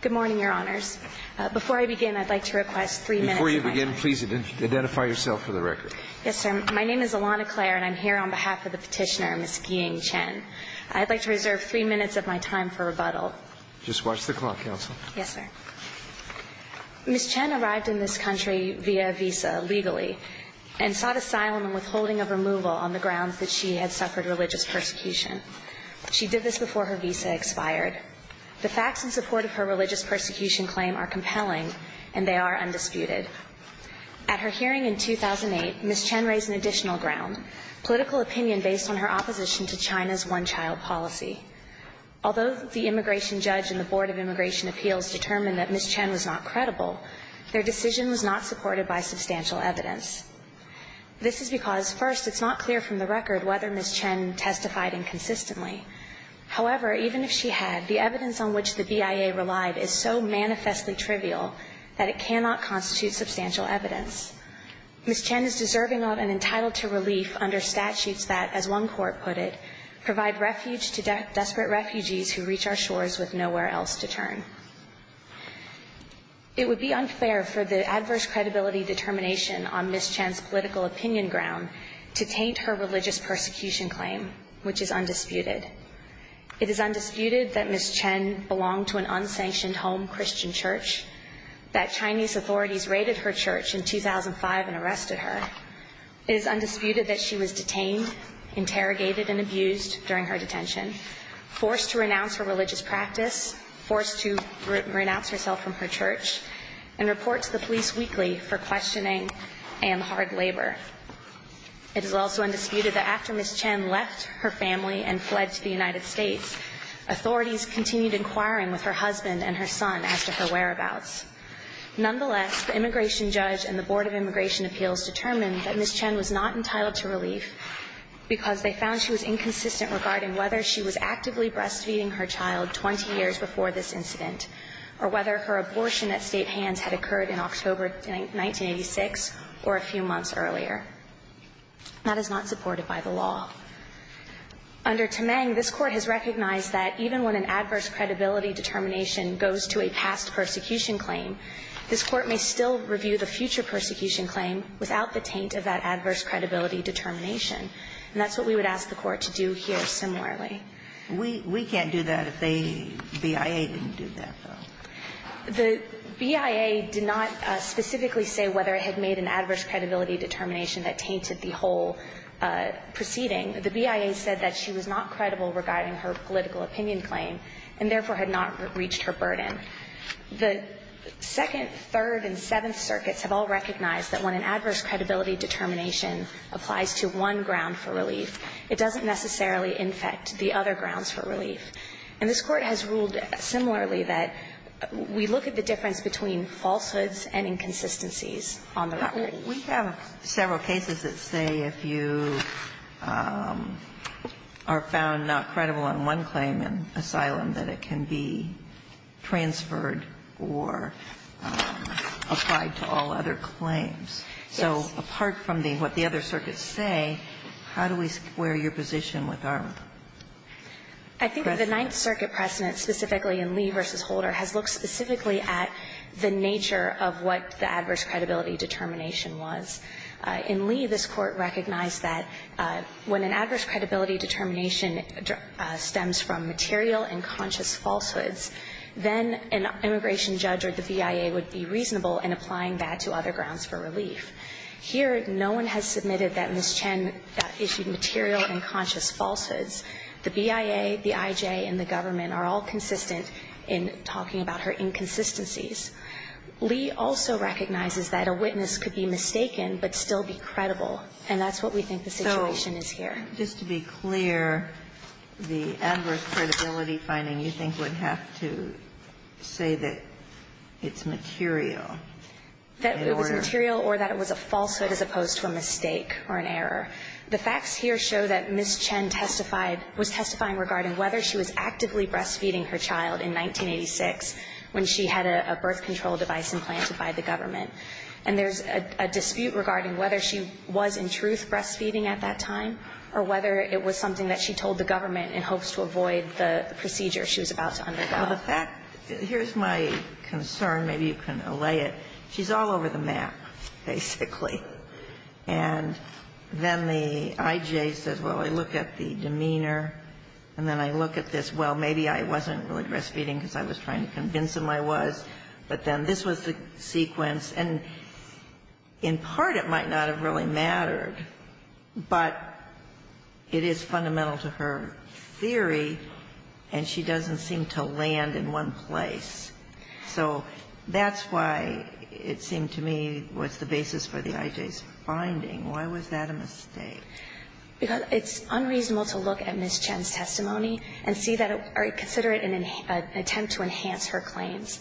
Good morning, Your Honors. Before I begin, I'd like to request three minutes of my time. Before you begin, please identify yourself for the record. Yes, sir. My name is Alana Clare, and I'm here on behalf of the petitioner, Ms. Guiying Chen. I'd like to reserve three minutes of my time for rebuttal. Just watch the clock, Counsel. Yes, sir. Ms. Chen arrived in this country via visa, legally, and sought asylum and withholding of removal on the grounds that she had suffered religious persecution. She did this before her visa expired. The facts in support of her religious persecution claim are compelling, and they are undisputed. At her hearing in 2008, Ms. Chen raised an additional ground, political opinion based on her opposition to China's one-child policy. Although the immigration judge and the Board of Immigration Appeals determined that Ms. Chen was not credible, their decision was not supported by substantial evidence. This is because, first, it's not clear from the record whether Ms. Chen testified inconsistently. However, even if she had, the evidence on which the BIA relied is so manifestly trivial that it cannot constitute substantial evidence. Ms. Chen is deserving of and entitled to relief under statutes that, as one court put it, provide refuge to desperate refugees who reach our shores with nowhere else to turn. It would be unfair for the adverse credibility determination on Ms. Chen's political opinion ground to taint her religious persecution claim, which is undisputed. It is undisputed that Ms. Chen belonged to an unsanctioned home Christian church, that Chinese authorities raided her church in 2005 and arrested her. It is undisputed that she was detained, interrogated, and abused during her detention, forced to renounce her religious practice, forced to renounce herself from her church, and report to the police weekly for questioning and hard labor. It is also undisputed that after Ms. Chen left her family and fled to the United States, authorities continued inquiring with her husband and her son as to her whereabouts. Nonetheless, the immigration judge and the Board of Immigration Appeals determined that Ms. Chen was not entitled to relief because they found she was inconsistent regarding whether she was actively breastfeeding her child 20 years before this incident or whether her abortion at State hands had occurred in October 1986 or a few months earlier. That is not supported by the law. Under Temeng, this Court has recognized that even when an adverse credibility determination goes to a past persecution claim, this Court may still review the future persecution claim without the taint of that adverse credibility determination. And that's what we would ask the Court to do here similarly. We can't do that if the BIA didn't do that, though. The BIA did not specifically say whether it had made an adverse credibility determination that tainted the whole proceeding. The BIA said that she was not credible regarding her political opinion claim and therefore had not reached her burden. The Second, Third, and Seventh Circuits have all recognized that when an adverse credibility determination applies to one ground for relief, it doesn't necessarily infect the other grounds for relief. And this Court has ruled similarly that we look at the difference between falsehoods and inconsistencies on the record. We have several cases that say if you are found not credible on one claim in asylum, that it can be transferred or applied to all other claims. Yes. So apart from what the other circuits say, how do we square your position with ours? I think the Ninth Circuit precedent, specifically in Lee v. Holder, has looked specifically at the nature of what the adverse credibility determination was. In Lee, this Court recognized that when an adverse credibility determination stems from material and conscious falsehoods, then an immigration judge or the BIA would be reasonable in applying that to other grounds for relief. Here, no one has submitted that Ms. Chen issued material and conscious falsehoods. The BIA, the IJ, and the government are all consistent in talking about her inconsistencies. Lee also recognizes that a witness could be mistaken but still be credible, and that's what we think the situation is here. Ginsburg. So just to be clear, the adverse credibility finding, you think, would have to say that it's material? That it was material or that it was a falsehood as opposed to a mistake or an error. The facts here show that Ms. Chen testified was testifying regarding whether she was actively breastfeeding her child in 1986 when she had a birth control device implanted by the government. And there's a dispute regarding whether she was in truth breastfeeding at that time or whether it was something that she told the government in hopes to avoid the procedure she was about to undergo. Well, the fact, here's my concern. Maybe you can allay it. She's all over the map, basically. And then the IJ says, well, I look at the demeanor, and then I look at this. Well, maybe I wasn't really breastfeeding because I was trying to convince him I was. But then this was the sequence. And in part, it might not have really mattered, but it is fundamental to her theory, and she doesn't seem to land in one place. So that's why it seemed to me was the basis for the IJ's finding. Why was that a mistake? Because it's unreasonable to look at Ms. Chen's testimony and see that or consider it an attempt to enhance her claims.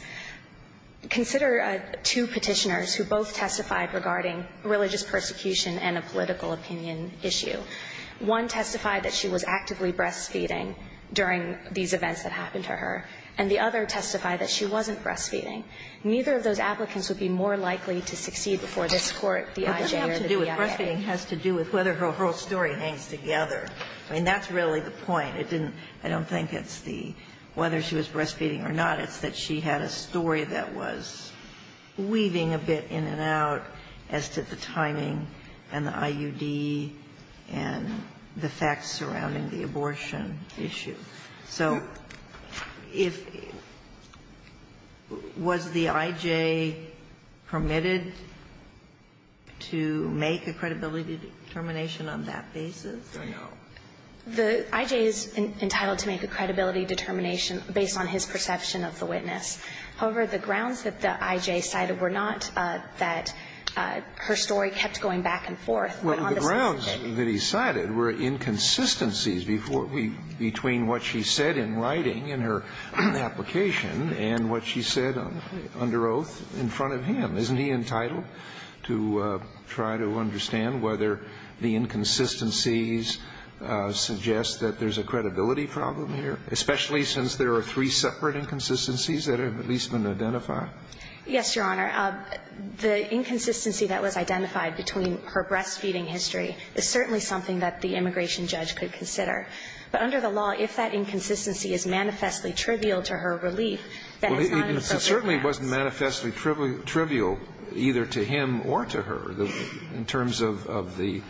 Consider two Petitioners who both testified regarding religious persecution and a political opinion issue. One testified that she was actively breastfeeding during these events that happened to her, and the other testified that she wasn't breastfeeding. Neither of those applicants would be more likely to succeed before this Court, the IJ or the BIA. Well, it doesn't have to do with breastfeeding. It has to do with whether her whole story hangs together. I mean, that's really the point. It didn't – I don't think it's the whether she was breastfeeding or not. It's that she had a story that was weaving a bit in and out as to the timing and the facts surrounding the abortion issue. So if – was the IJ permitted to make a credibility determination on that basis? I know. The IJ is entitled to make a credibility determination based on his perception of the witness. However, the grounds that the IJ cited were not that her story kept going back and forth. Well, the grounds that he cited were inconsistencies before we – between what she said in writing in her application and what she said under oath in front of him. Isn't he entitled to try to understand whether the inconsistencies suggest that there's a credibility problem here, especially since there are three separate inconsistencies that have at least been identified? Yes, Your Honor. The inconsistency that was identified between her breastfeeding history is certainly something that the immigration judge could consider. But under the law, if that inconsistency is manifestly trivial to her relief, then it's not appropriate to ask. Well, it certainly wasn't manifestly trivial either to him or to her in terms of the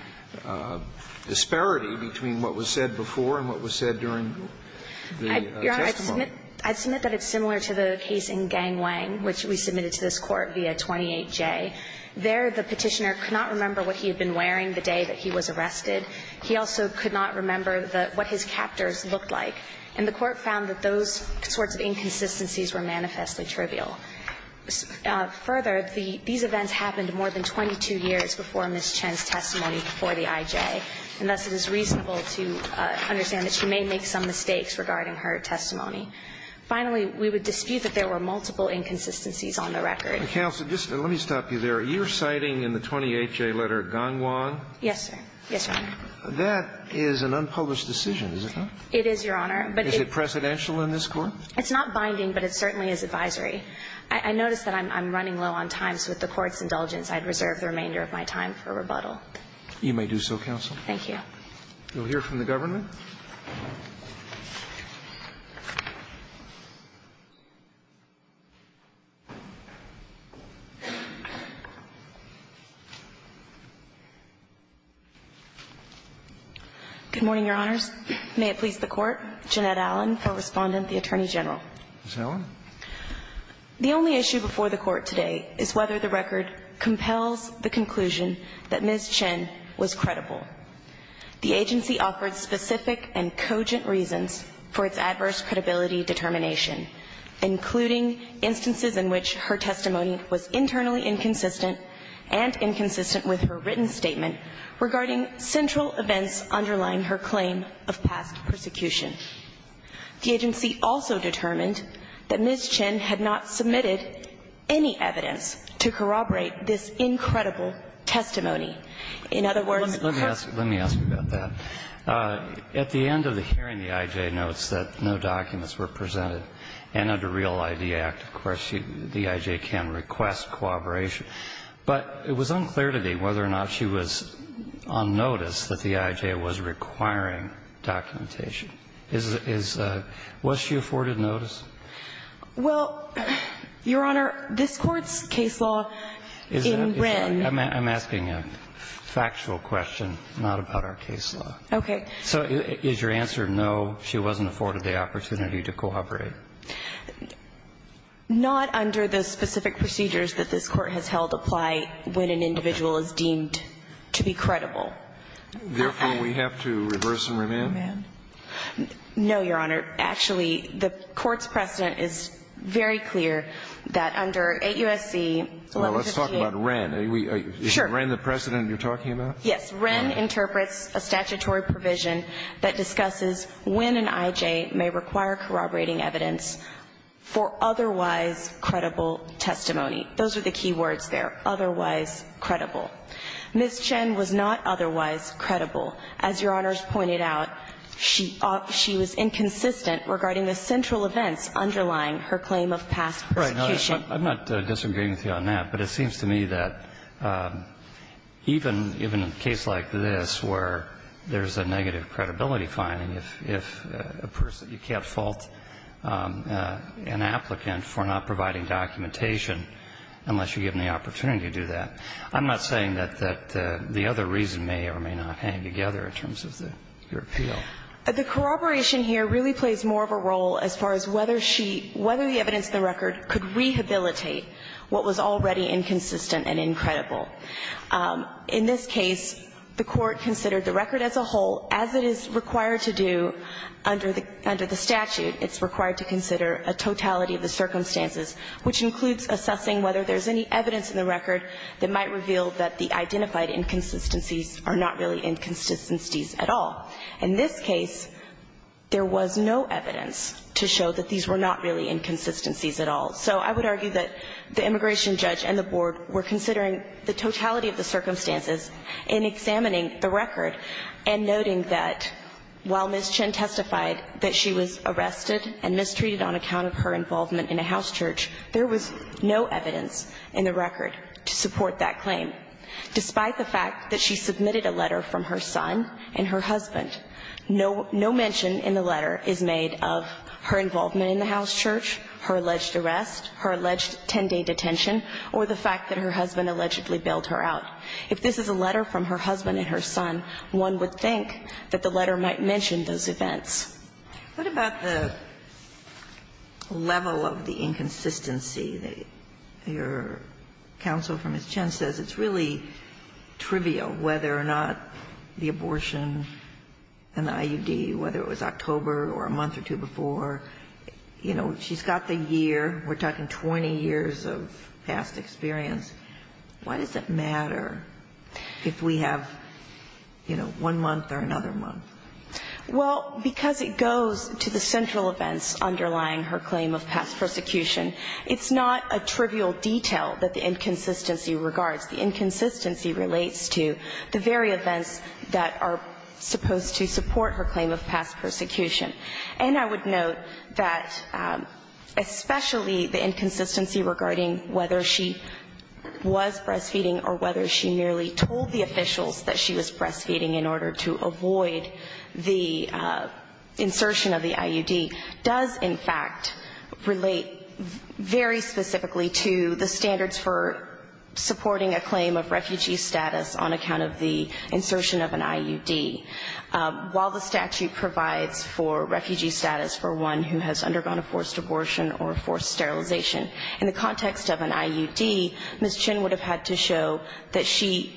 disparity between what was said before and what was said during the testimony. Your Honor, I'd submit that it's similar to the case in Gang Wang, which we submitted to this Court via 28J. There, the Petitioner could not remember what he had been wearing the day that he was arrested. He also could not remember what his captors looked like. And the Court found that those sorts of inconsistencies were manifestly trivial. Further, these events happened more than 22 years before Ms. Chen's testimony before the IJ, and thus it is reasonable to understand that she may make some mistakes regarding her testimony. Finally, we would dispute that there were multiple inconsistencies on the record. Counsel, just let me stop you there. You're citing in the 28J letter Gang Wang? Yes, sir. Yes, Your Honor. That is an unpublished decision, is it not? It is, Your Honor. But it's a precedential in this Court? It's not binding, but it certainly is advisory. I notice that I'm running low on time, so with the Court's indulgence, I'd reserve the remainder of my time for rebuttal. You may do so, counsel. Thank you. We'll hear from the government. Good morning, Your Honors. May it please the Court. Jeanette Allen for Respondent, the Attorney General. Ms. Allen. The only issue before the Court today is whether the record compels the conclusion that Ms. Chen was credible. The agency offered specific and cogent reasons for its adverse credibility determination, including instances in which her testimony was internally inconsistent and inconsistent with her written statement regarding central events underlying her claim of past persecution. The agency also determined that Ms. Chen had not submitted any evidence to corroborate this incredible testimony. In other words, her testimony. Let me ask you about that. At the end of the hearing, the I.J. notes that no documents were presented. And under Real ID Act, of course, the I.J. can request corroboration. But it was unclear to me whether or not she was on notice that the I.J. was requiring documentation. Was she afforded notice? Well, Your Honor, this Court's case law in Wren. I'm asking you. Factual question, not about our case law. Okay. So is your answer no, she wasn't afforded the opportunity to corroborate? Not under the specific procedures that this Court has held apply when an individual is deemed to be credible. Therefore, we have to reverse and remand? No, Your Honor. Actually, the Court's precedent is very clear that under 8 U.S.C. 1158. Well, let's talk about Wren. Sure. Is that Wren the precedent you're talking about? Yes. Wren interprets a statutory provision that discusses when an I.J. may require corroborating evidence for otherwise credible testimony. Those are the key words there, otherwise credible. Ms. Chen was not otherwise credible. As Your Honor's pointed out, she was inconsistent regarding the central events underlying her claim of past prosecution. I'm not disagreeing with you on that, but it seems to me that even in a case like this where there's a negative credibility finding, if a person, you can't fault an applicant for not providing documentation unless you give them the opportunity to do that, I'm not saying that the other reason may or may not hang together in terms of your appeal. The corroboration here really plays more of a role as far as whether she, whether the evidence in the record could rehabilitate what was already inconsistent and incredible. In this case, the Court considered the record as a whole as it is required to do under the statute. It's required to consider a totality of the circumstances, which includes assessing whether there's any evidence in the record that might reveal that the identified inconsistencies are not really inconsistencies at all. In this case, there was no evidence to show that these were not really inconsistencies at all. So I would argue that the immigration judge and the board were considering the totality of the circumstances in examining the record and noting that while Ms. Chen testified that she was arrested and mistreated on account of her involvement in a house church, there was no evidence in the record to support that claim. Despite the fact that she submitted a letter from her son and her husband, no mention in the letter is made of her involvement in the house church, her alleged arrest, her alleged 10-day detention, or the fact that her husband allegedly bailed her out. If this is a letter from her husband and her son, one would think that the letter might mention those events. What about the level of the inconsistency? Your counsel for Ms. Chen says it's really trivial whether or not the abortion and the IUD, whether it was October or a month or two before, you know, she's got the year. We're talking 20 years of past experience. Why does it matter if we have, you know, one month or another month? Well, because it goes to the central events underlying her claim of past persecution. It's not a trivial detail that the inconsistency regards. The inconsistency relates to the very events that are supposed to support her claim of past persecution. And I would note that especially the inconsistency regarding whether she was breastfeeding or whether she merely told the officials that she was breastfeeding in order to avoid the insertion of the IUD does in fact relate very specifically to the standards for supporting a claim of refugee status on account of the insertion of an IUD. While the statute provides for refugee status for one who has undergone a forced abortion or forced sterilization, in the context of an IUD, Ms. Chen would have had to show that she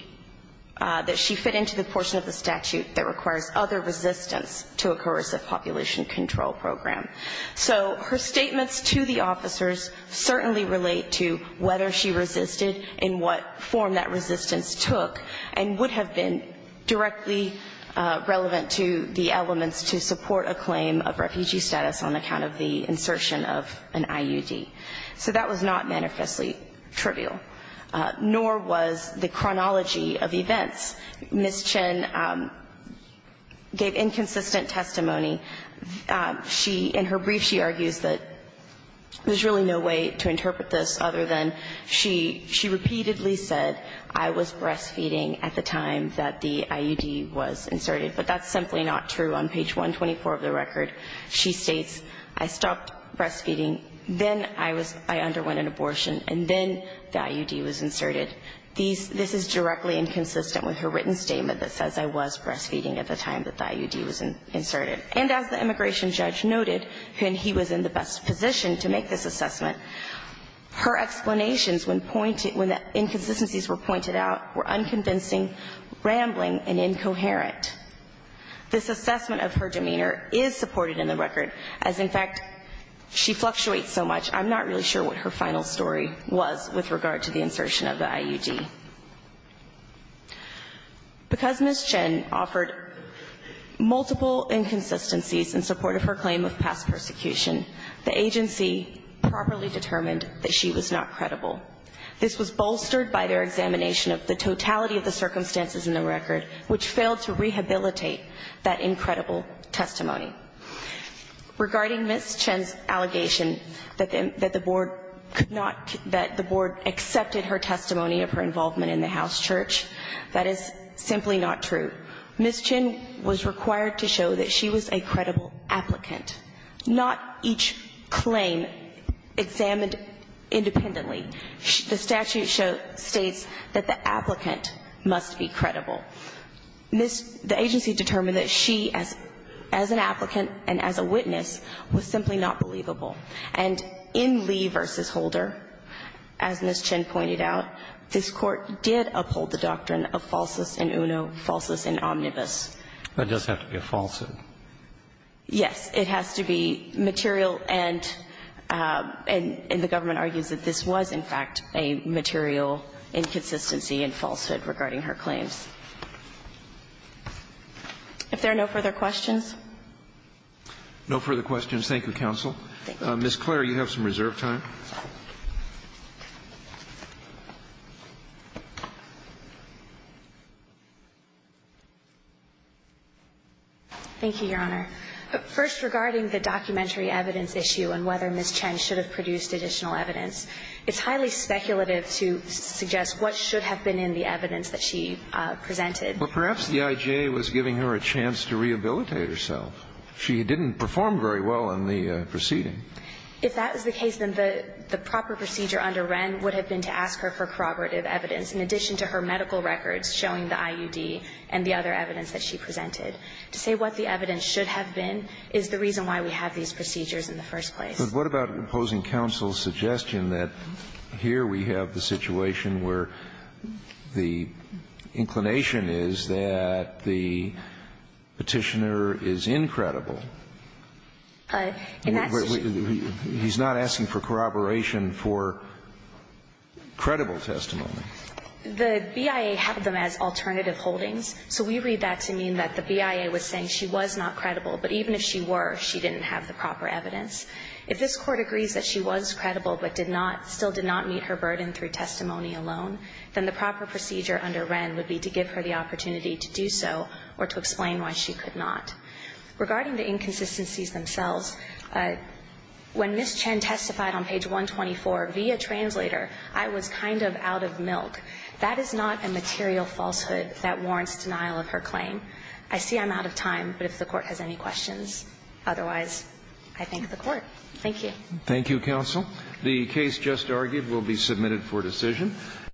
fit into the portion of the statute that requires other resistance to a coercive population control program. So her statements to the officers certainly relate to whether she resisted and what form that resistance took and would have been directly relevant to the elements to support a claim of refugee status on account of the insertion of an IUD. So that was not manifestly trivial, nor was the chronology of events. Ms. Chen gave inconsistent testimony. She, in her brief, she argues that there's really no way to interpret this other than she repeatedly said, I was breastfeeding at the time that the IUD was inserted. But that's simply not true. On page 124 of the record, she states, I stopped breastfeeding, then I was, I underwent an abortion, and then the IUD was inserted. This is directly inconsistent with her written statement that says I was breastfeeding at the time that the IUD was inserted. And as the immigration judge noted, when he was in the best position to make this assessment of her demeanor is supported in the record, as, in fact, she fluctuates so much, I'm not really sure what her final story was with regard to the insertion of the IUD. Because Ms. Chen offered multiple inconsistencies in support of her claim of past persecution, the agency properly determined that she was not credible. This was bolstered by their examination of the totality of the circumstances in the record, which failed to rehabilitate that incredible testimony. Regarding Ms. Chen's allegation that the board could not, that the board accepted her testimony of her involvement in the house church, that is simply not true. Ms. Chen was required to show that she was a credible applicant, not each claim examined independently. The statute states that the applicant must be credible. This, the agency determined that she, as an applicant and as a witness, was simply not believable. And in Lee v. Holder, as Ms. Chen pointed out, this Court did uphold the doctrine of falsus in uno, falsus in omnibus. But it does have to be a falsehood. Yes, it has to be material, and the government argues that this was, in fact, a material inconsistency and falsehood regarding her claims. If there are no further questions. No further questions. Thank you, counsel. Ms. Clare, you have some reserve time. Thank you, Your Honor. First, regarding the documentary evidence issue and whether Ms. Chen should have produced additional evidence, it's highly speculative to suggest what should have been in the evidence that she presented. Well, perhaps the IJA was giving her a chance to rehabilitate herself. She didn't perform very well in the proceeding. If that was the case, then the proper procedure under Wren would have been to ask her for corroborative evidence, in addition to her medical records showing the IUD and the other evidence that she presented. To say what the evidence should have been is the reason why we have these procedures in the first place. But what about opposing counsel's suggestion that here we have the situation where the inclination is that the Petitioner is incredible? In that situation. He's not asking for corroboration for credible testimony. The BIA has them as alternative holdings, so we read that to mean that the BIA was saying she was not credible, but even if she were, she didn't have the proper evidence. If this Court agrees that she was credible but did not, still did not meet her burden through testimony alone, then the proper procedure under Wren would be to give her the opportunity to do so or to explain why she could not. Regarding the inconsistencies themselves, when Ms. Chen testified on page 124 via translator, I was kind of out of milk. That is not a material falsehood that warrants denial of her claim. I see I'm out of time, but if the Court has any questions, otherwise, I thank the Court. Thank you. Thank you, counsel. The case just argued will be submitted for decision.